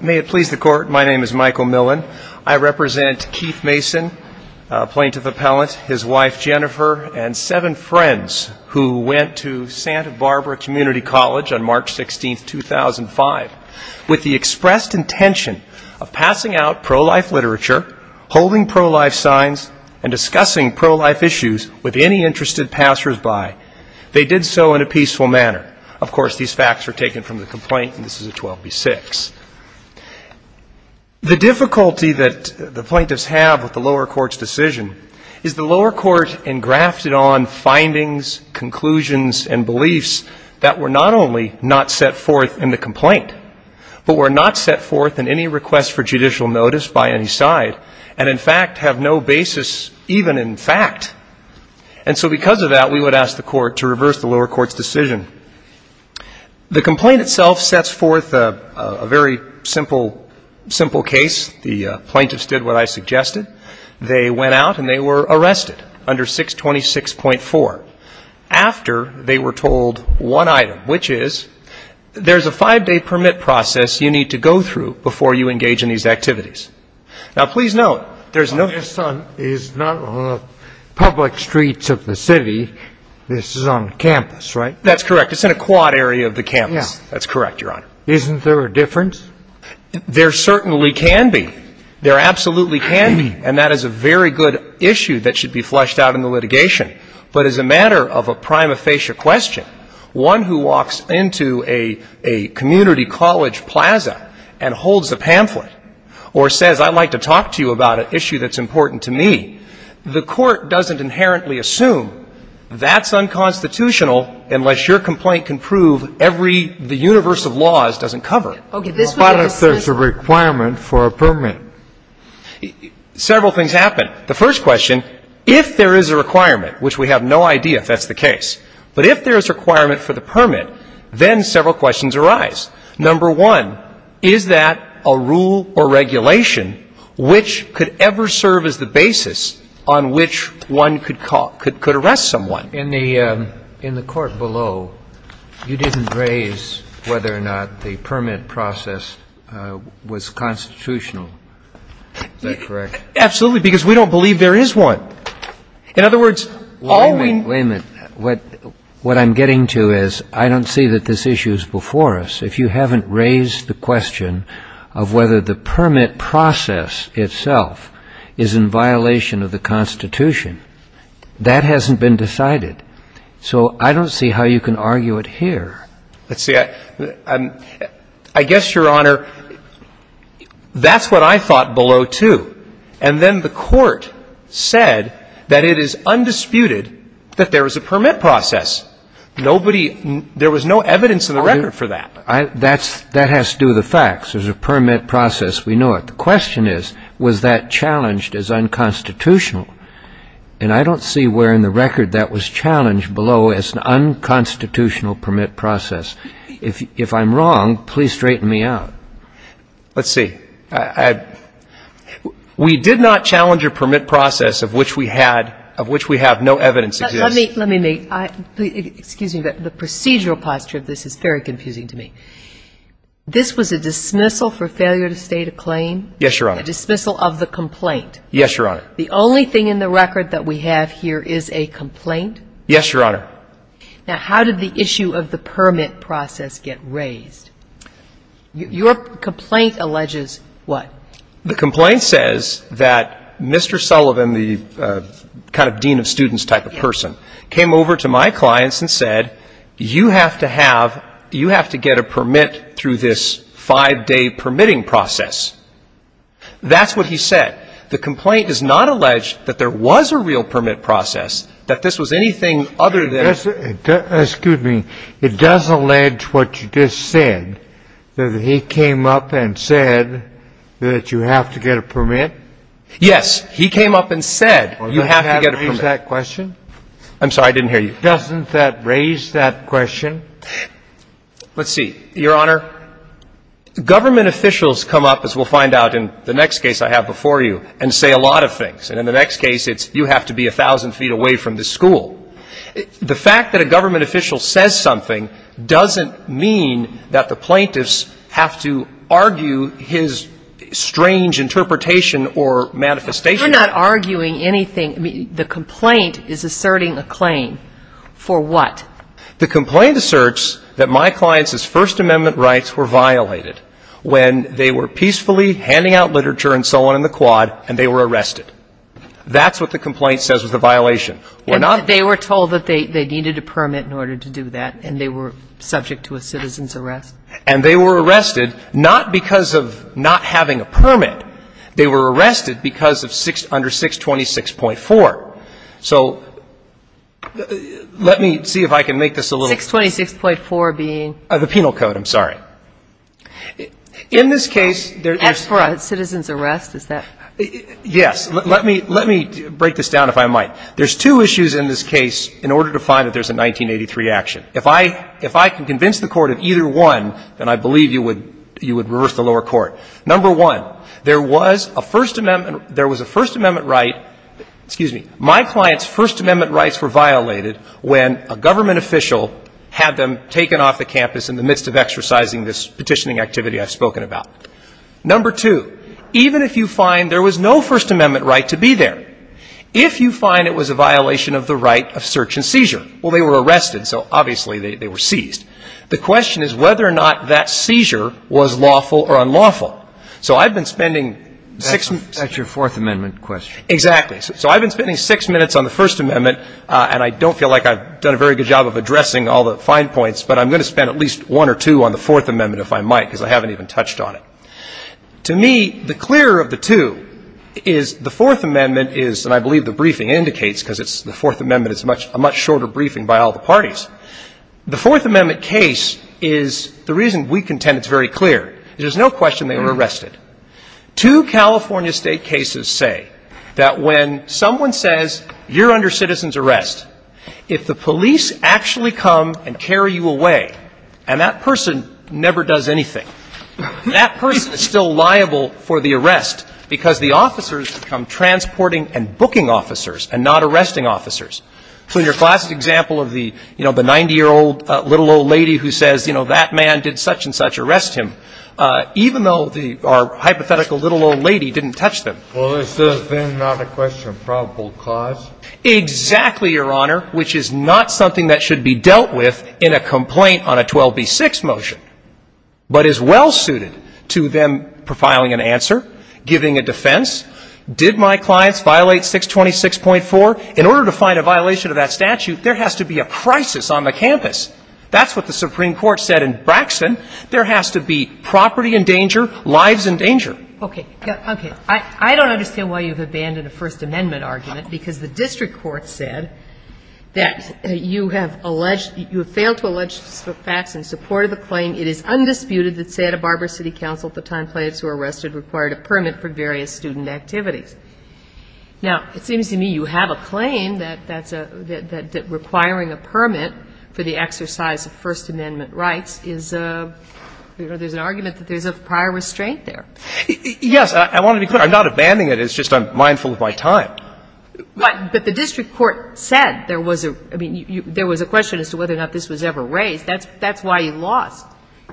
May it please the Court, my name is Michael Millen. I represent Keith Mason, plaintiff appellant, his wife Jennifer, and seven friends who went to Santa Barbara Community College on March 16, 2005, with the expressed intention of passing out pro-life literature, holding pro-life signs, and discussing pro-life issues with any interested passers-by. They did so in a peaceful manner. Of course, these facts were taken from the complaint, and this is a 12b-6. The difficulty that the plaintiffs have with the lower court's decision is the lower court engrafted on findings, conclusions, and beliefs that were not only not set forth in the complaint, but were not set forth in any request for judicial notice by any side, and in fact, have no basis even in fact. And so because of that, we would ask the Court to reverse the lower court's decision. The complaint itself sets forth a very simple case. The plaintiffs did what I suggested. They went out, and they were arrested under 626.4, after they were told one item, which is, there's a five-day permit process you need to go through before you engage in these activities. Now, please note, there's no This is not on the public streets of the city. This is on campus, right? That's correct. It's in a quad area of the campus. Yeah. That's correct, Your Honor. Isn't there a difference? There certainly can be. There absolutely can be. And that is a very good issue that should be fleshed out in the litigation. But as a matter of a prima facie question, one who walks into a community college plaza and holds a pamphlet or says, I'd like to talk to you about an issue that's important to me, the Court doesn't inherently assume that's unconstitutional unless your complaint can prove every the universe of laws doesn't cover it. Okay. This would be a dismissal. What if there's a requirement for a permit? Several things happen. The first question, if there is a requirement, which we have no idea if that's the case, but if there is a requirement for the permit, then several questions arise. Number one, is that a rule or regulation which could ever serve as the basis on which one could arrest someone? In the court below, you didn't raise whether or not the permit process was constitutional. Is that correct? Absolutely. Because we don't believe there is one. In other words, all we — Wait a minute. What I'm getting to is, I don't see that this issue is before us. If you haven't raised the question of whether the permit process itself is in violation of the Constitution, that hasn't been decided. So I don't see how you can argue it here. Let's see. I guess, Your Honor, that's what I thought below, too. And then the Court said that it is undisputed that there is a permit process. Nobody — there was no evidence in the record for that. That has to do with the facts. There's a permit process. We know it. The question is, was that challenged as unconstitutional? And I don't see where in the record that was challenged below as an unconstitutional permit process. If I'm wrong, please straighten me out. Let's see. We did not challenge a permit process of which we had — of which we have no evidence. Let me make — excuse me. The procedural posture of this is very confusing to me. This was a dismissal for failure to state a claim? Yes, Your Honor. A dismissal of the complaint? Yes, Your Honor. The only thing in the record that we have here is a complaint? Yes, Your Honor. Now, how did the issue of the permit process get raised? Your complaint alleges what? The complaint says that Mr. Sullivan, the kind of dean of students type of person, came over to my clients and said, you have to have — you have to get a permit through this five-day permitting process. That's what he said. The complaint does not allege that there was a real permit process, that this was anything other than — Excuse me. It does allege what you just said, that he came up and said that you have to get a permit? Yes. He came up and said you have to get a permit. Doesn't that raise that question? I'm sorry. I didn't hear you. Doesn't that raise that question? Let's see. Your Honor, government officials come up, as we'll find out in the next case I have before you, and say a lot of things. And in the next case, it's you have to be 1,000 feet away from the school. The fact that a government official says something doesn't mean that the plaintiffs have to argue his strange interpretation or manifestation. We're not arguing anything. The complaint is asserting a claim. For what? The complaint asserts that my clients' First Amendment rights were violated when they were peacefully handing out literature and so on in the quad, and they were arrested. That's what the complaint says was the violation. They were told that they needed a permit in order to do that, and they were subject to a citizen's arrest? And they were arrested, not because of not having a permit. They were arrested because of under 626.4. So let me see if I can make this a little — 626.4 being — The penal code. I'm sorry. In this case, there's — As for a citizen's arrest, is that — Yes. Let me — let me break this down, if I might. There's two issues in this case in order to find that there's a 1983 action. If I — if I can convince the Court of either one, then I believe you would — you would reverse the lower court. Number one, there was a First Amendment — there was a First Amendment right — excuse me — my clients' First Amendment rights were violated when a government official had them taken off the campus in the midst of exercising this petitioning activity I've spoken about. Number two, even if you find there was no First Amendment right to be there, if you find it was a violation of the right of search and seizure — well, they were arrested, so obviously they were seized — the question is whether or not that seizure was lawful or unlawful. So I've been spending six — That's your Fourth Amendment question. Exactly. So I've been spending six minutes on the First Amendment, and I don't feel like I've done a very good job of addressing all the fine points, but I'm going to spend at least one or two on the Fourth Amendment, if I might, because I haven't even touched on it. To me, the clearer of the two is the Fourth Amendment is — and I believe the briefing indicates because it's — the Fourth Amendment is a much shorter briefing by all the parties. The Fourth Amendment case is — the reason we contend it's very clear is there's no question they were arrested. Two California state cases say that when someone says you're under citizen's arrest, if the police actually come and carry you away, and that person never does anything, that person is still liable for the arrest, because the officers become transporting and booking officers and not arresting officers. So in your class's example of the, you know, the 90-year-old little old lady who says, you know, that man did such and such, arrest him, even though the — our hypothetical little old lady didn't touch them. Well, is this then not a question of probable cause? Exactly, Your Honor, which is not something that should be dealt with in a complaint on a 12b-6 motion, but is well-suited to them profiling an answer, giving a defense. Did my clients violate 626.4? In order to find a violation of that statute, there has to be a crisis on the campus. That's what the Supreme Court said in Braxton. There has to be property in danger, lives in danger. Okay. Okay. I don't understand why you've abandoned a First Amendment argument, because the district court said that you have alleged — you have failed to allege facts in support of the claim it is undisputed that Santa Barbara City Council at the time plaintiffs who were arrested required a permit for various student activities. Now, it seems to me you have a claim that that's a — that requiring a permit for the exercise of First Amendment rights is a — you know, there's an argument that there's a prior restraint there. Yes. I want to be clear. I'm not abandoning it. It's just I'm mindful of my time. But the district court said there was a — I mean, there was a question as to whether or not this was ever raised. That's why you lost.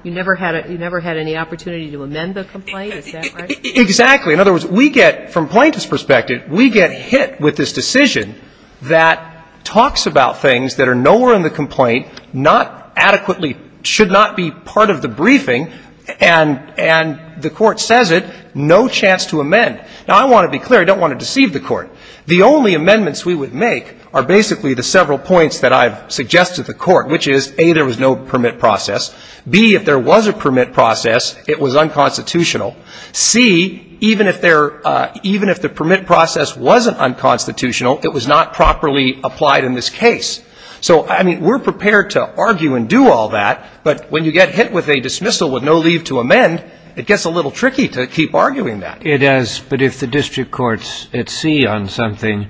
You never had a — you never had any opportunity to amend the complaint? Is that right? Exactly. In other words, we get — from plaintiffs' perspective, we get hit with this decision that talks about things that are nowhere in the complaint, not adequately — should not be part of the briefing, and the court says it, no chance to amend. Now, I want to be clear. I don't want to deceive the court. The only amendments we would make are basically the several points that I've suggested to the court, which is, A, there was no permit process. B, if there was a permit process, it was unconstitutional. C, even if there — even if the permit process wasn't unconstitutional, it was not properly applied in this case. So, I mean, we're prepared to argue and do all that, but when you get hit with a dismissal with no leave to amend, it gets a little tricky to keep arguing that. It does. But if the district court's at sea on something,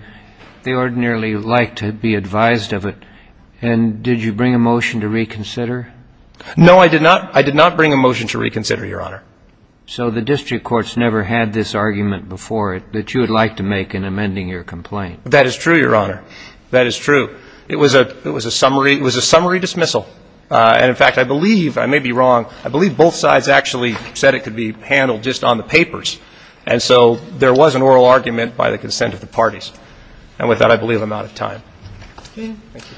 they ordinarily like to be advised of it. And did you bring a motion to reconsider? No, I did not. I did not bring a motion to reconsider, Your Honor. So the district court's never had this argument before that you would like to make in amending your complaint? That is true, Your Honor. That is true. It was a — it was a summary — it was a summary dismissal. And, in fact, I believe — I may be wrong — I believe both sides actually said it could be handled just on the papers. And so there was an oral argument by the consent of the parties. And with that, I believe I'm out of time. Thank you.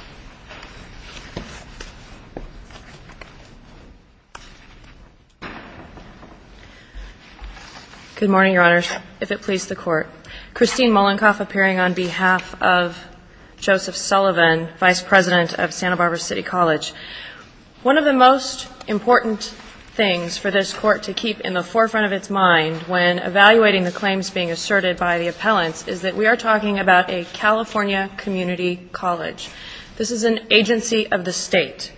Good morning, Your Honors. If it please the Court. Christine Mollenkopf appearing on behalf of Joseph Sullivan, Vice President of Santa Barbara City College. One of the most important things for this Court to keep in the forefront of its mind when evaluating the claims being asserted by the appellants is that we are talking about a California community college. This is an agency of the state.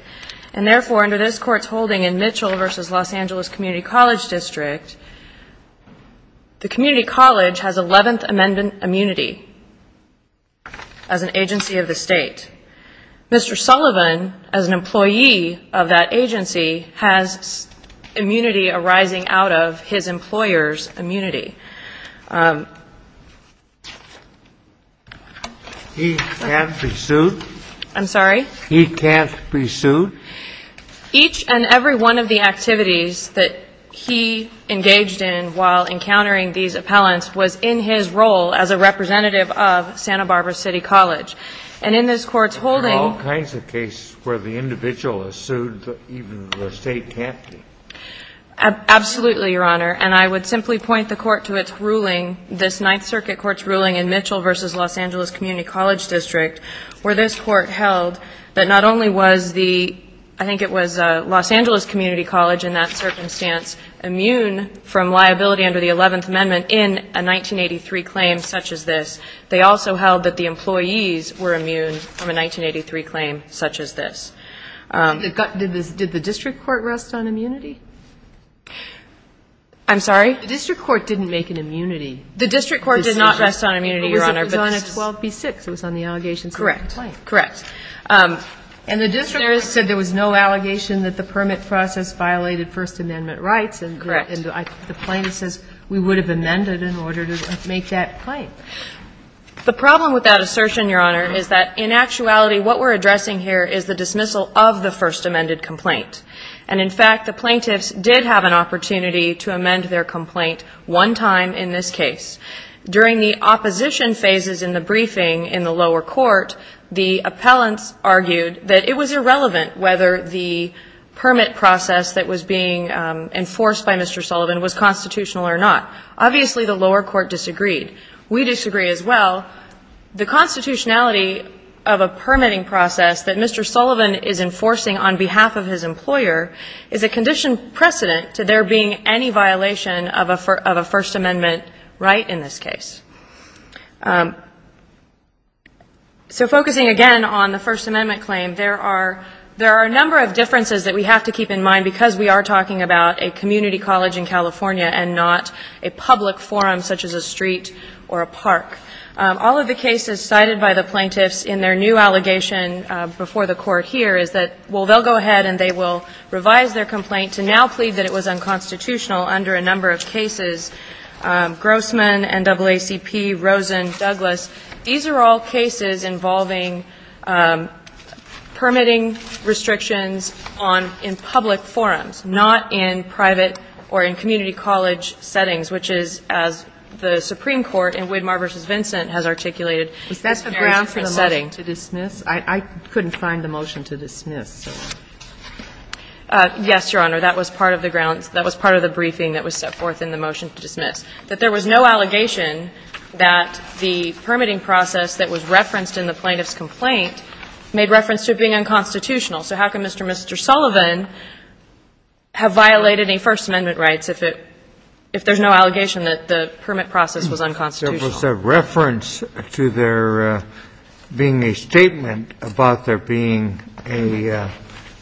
And therefore, under this Court's holding in Mitchell v. Los Angeles Community College District, the community college has 11th Amendment immunity as an agency of the state. Mr. Sullivan, as an employee of that agency, has immunity arising out of his employer's immunity. He can't be sued? I'm sorry? He can't be sued? Each and every one of the activities that he engaged in while encountering these issues, including his role as a representative of Santa Barbara City College. And in this Court's holding... But there are all kinds of cases where the individual is sued, even though the state can't be. Absolutely, Your Honor. And I would simply point the Court to its ruling, this Ninth Circuit Court's ruling in Mitchell v. Los Angeles Community College District, where this Court held that not only was the I think it was Los Angeles Community College in that circumstance immune from liability under the 11th Amendment in a 1983 claim such as this, they also held that the employees were immune from a 1983 claim such as this. Did the district court rest on immunity? I'm sorry? The district court didn't make an immunity. The district court did not rest on immunity, Your Honor. It was on 12b-6. It was on the allegations of the complaint. Correct. Correct. And the district said there was no allegation that the permit process violated First Amendment rights. Correct. And the plaintiff says we would have amended in order to make that claim. The problem with that assertion, Your Honor, is that in actuality what we're addressing here is the dismissal of the first amended complaint. And in fact, the plaintiffs did have an opportunity to amend their complaint one time in this case. During the opposition phases in the briefing in the lower court, the appellants argued that it was irrelevant whether the permit process that was being enforced by Mr. Sullivan was constitutional or not. Obviously the lower court disagreed. We disagree as well. The constitutionality of a permitting process that Mr. Sullivan is enforcing on behalf of his employer is a condition precedent to there being any violation of a First Amendment right in this case. So focusing again on the First Amendment claim, there are a number of differences that we have to keep in mind because we are talking about a community college in California and not a public forum such as a street or a park. All of the cases cited by the plaintiffs in their new allegation before the court here is that, well, they'll go ahead and they will revise their complaint to now plead that it was unconstitutional under a number of cases. Grossman, NAACP, Rosen, Douglas, these are all cases involving permitting restrictions on in public forums, not in private or in community college settings, which is as the Supreme Court in Widmar v. Vincent has articulated. Is that the grounds for the motion to dismiss? I couldn't find the motion to dismiss. Yes, Your Honor. That was part of the briefing that was set forth in the motion to dismiss, that there was no allegation that the permitting process that was referenced in the plaintiff's complaint made reference to it being unconstitutional. So how can Mr. and Mr. Sullivan have violated any First Amendment rights if there's no allegation that the permit process was unconstitutional? There was a reference to there being a statement about there being a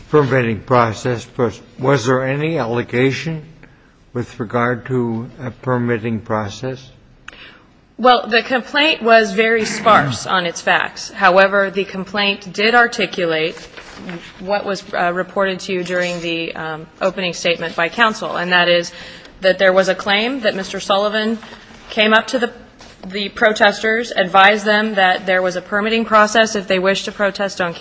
permitting process, but was there any allegation with regard to a permitting process? Well, the complaint was very sparse on its facts. However, the complaint did articulate what was reported to you during the opening statement by counsel, and that is that there was a claim that Mr. Sullivan came up to the protesters, advised them that there was a permitting process if they wished to do so.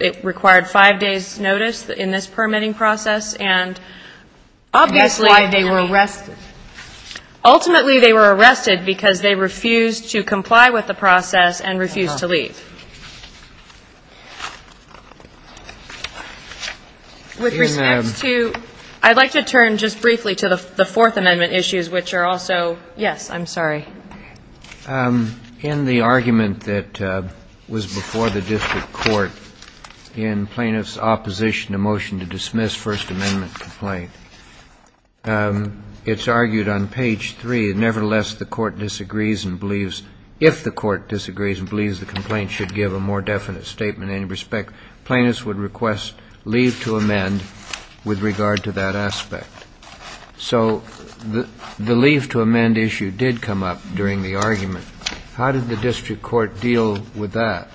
It required five days' notice in this permitting process. And that's why they were arrested. Ultimately, they were arrested because they refused to comply with the process and refused to leave. With respect to – I'd like to turn just briefly to the Fourth Amendment issues, which are also – yes, I'm sorry. In the argument that was before the district court in plaintiff's opposition to motion to dismiss First Amendment complaint, it's argued on page three, nevertheless, the court disagrees and believes – if the court disagrees and believes the complaint should give a more definite statement in any respect, plaintiffs would request leave to amend with regard to that aspect. So the leave to amend issue did come up during the argument. How did the district court deal with that?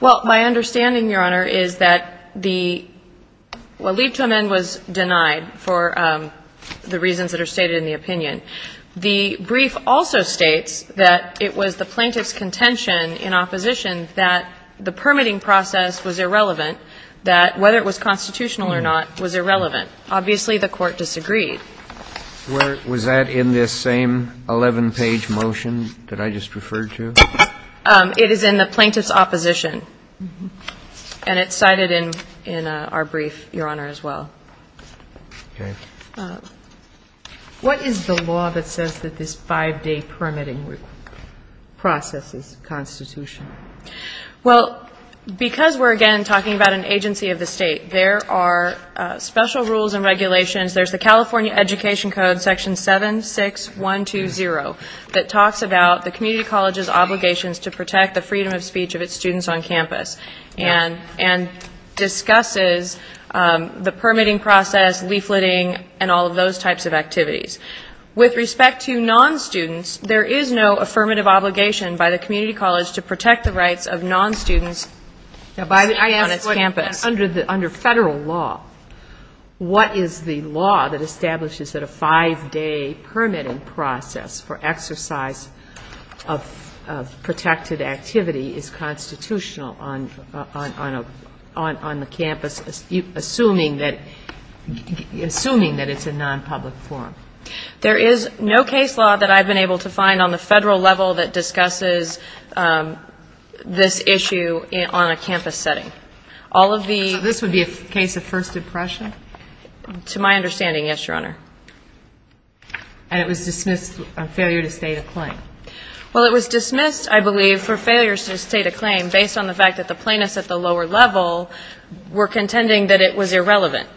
Well, my understanding, Your Honor, is that the – well, leave to amend was denied for the reasons that are stated in the opinion. The brief also states that it was the plaintiff's contention in opposition that the permitting process was irrelevant, that whether it was constitutional or not was irrelevant. Obviously, the court disagreed. Was that in this same 11-page motion that I just referred to? It is in the plaintiff's opposition. And it's cited in our brief, Your Honor, as well. Okay. What is the law that says that this five-day permitting process is constitutional? Well, because we're, again, talking about an agency of the State, there are special rules and regulations. There's the California Education Code, Section 76120, that talks about the community college's obligations to protect the freedom of speech of its students on campus and discusses the permitting process, leafleting, and all of those types of activities. With respect to non-students, there is no affirmative obligation by the community college to protect the rights of non-students on its campus. Under federal law, what is the law that establishes that a five-day permitting process for exercise of protected activity is constitutional on the campus, assuming that it's a non-public forum? There is no case law that I've been able to find on the federal level that discusses this issue on a campus setting. So this would be a case of first impression? To my understanding, yes, Your Honor. And it was dismissed on failure to state a claim? Well, it was dismissed, I believe, for failure to state a claim based on the fact that the plaintiffs at the lower level were contending that it was irrelevant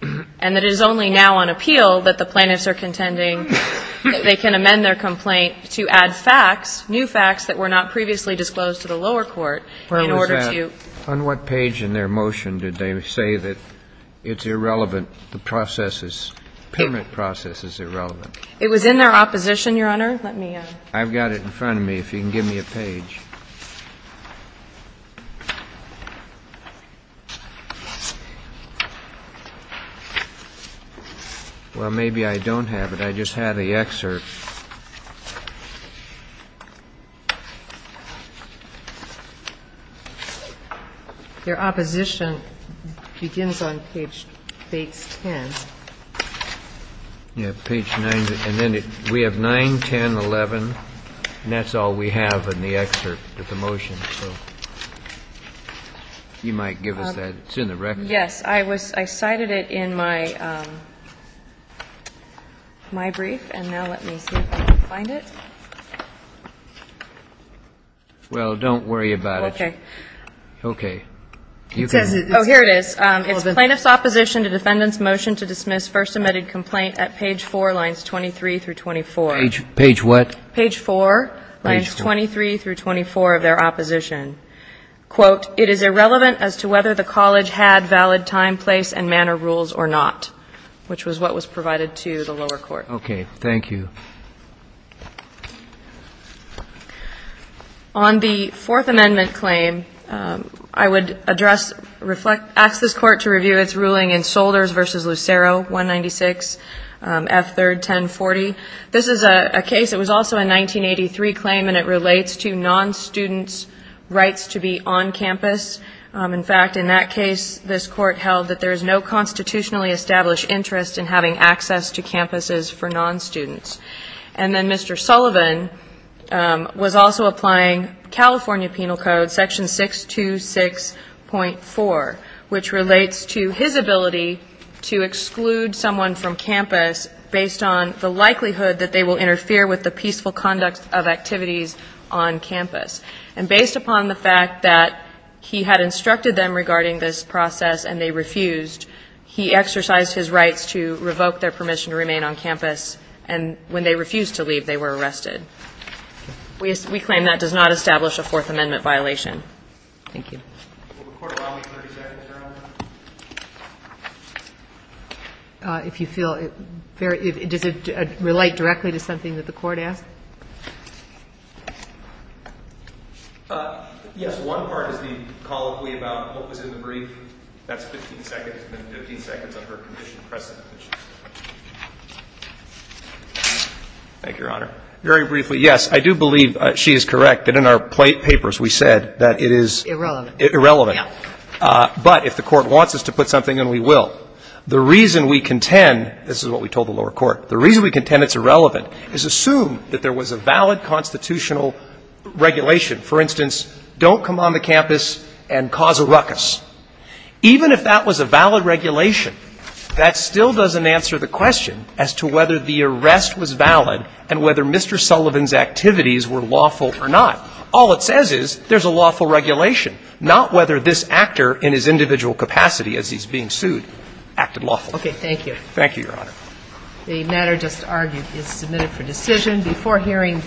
and that it is only now on appeal that the plaintiffs are contending that they can amend their complaint to add facts, new facts, that were not previously disclosed to the lower court in order to... On what page in their motion did they say that it's irrelevant, the process is...permit process is irrelevant? It was in their opposition, Your Honor. Let me... I've got it in front of me. If you can give me a page. Well, maybe I don't have it. I just have the excerpt. Your opposition begins on page 10. Yeah, page 9. And then we have 9, 10, 11. And that's all we have in the excerpt of the motion. You might give us that. It's in the record. Yes, I cited it in my brief. And now let me see if I can find it. Well, don't worry about it. Okay. Okay. Oh, here it is. It's plaintiff's opposition to defendant's motion to dismiss first submitted complaint at page 4, lines 23 through 24. Page what? Page 4, lines 23 through 24 of their opposition. Quote, it is irrelevant as to whether the college had valid time, place, and manner rules or not, which was what was provided to the lower court. Okay. Thank you. On the Fourth Amendment claim, I would address, ask this court to review its ruling in Solders v. Lucero 196, F3rd 1040. This is a case, it was also a 1983 claim, and it relates to non-students' rights to be on campus. In fact, in that case, this court held that there is no constitutionally established interest in having access to campuses for non-students. And then Mr. Sullivan was also applying California Penal Code section 626.4, which relates to his ability to exclude someone from campus based on the likelihood that they will interfere with the peaceful conduct of activities on campus. And based upon the fact that he had instructed them regarding this process and they refused, he exercised his rights to revoke their permission to remain on campus. And when they refused to leave, they were arrested. We claim that does not establish a Fourth Amendment violation. Thank you. Will the court allow me 30 seconds, Your Honor? If you feel very, does it relate directly to something that the court asked? Yes. One part is the colloquy about what was in the brief. That's 15 seconds. Thank you, Your Honor. Very briefly. Yes, I do believe she is correct that in our papers we said that it is Irrelevant. Irrelevant. Yeah. But if the court wants us to put something in, we will. The reason we contend, this is what we told the lower court, the reason we contend it's irrelevant is assume that there was a valid constitutional regulation. For instance, don't come on the campus and cause a ruckus. Even if that was a valid regulation, that still doesn't answer the question as to whether the arrest was valid and whether Mr. Sullivan's activities were lawful or not. All it says is there's a lawful regulation, not whether this actor in his individual capacity as he's being sued acted lawfully. Okay. Thank you. Thank you, Your Honor. Before hearing the last hearing, I would like to ask the court to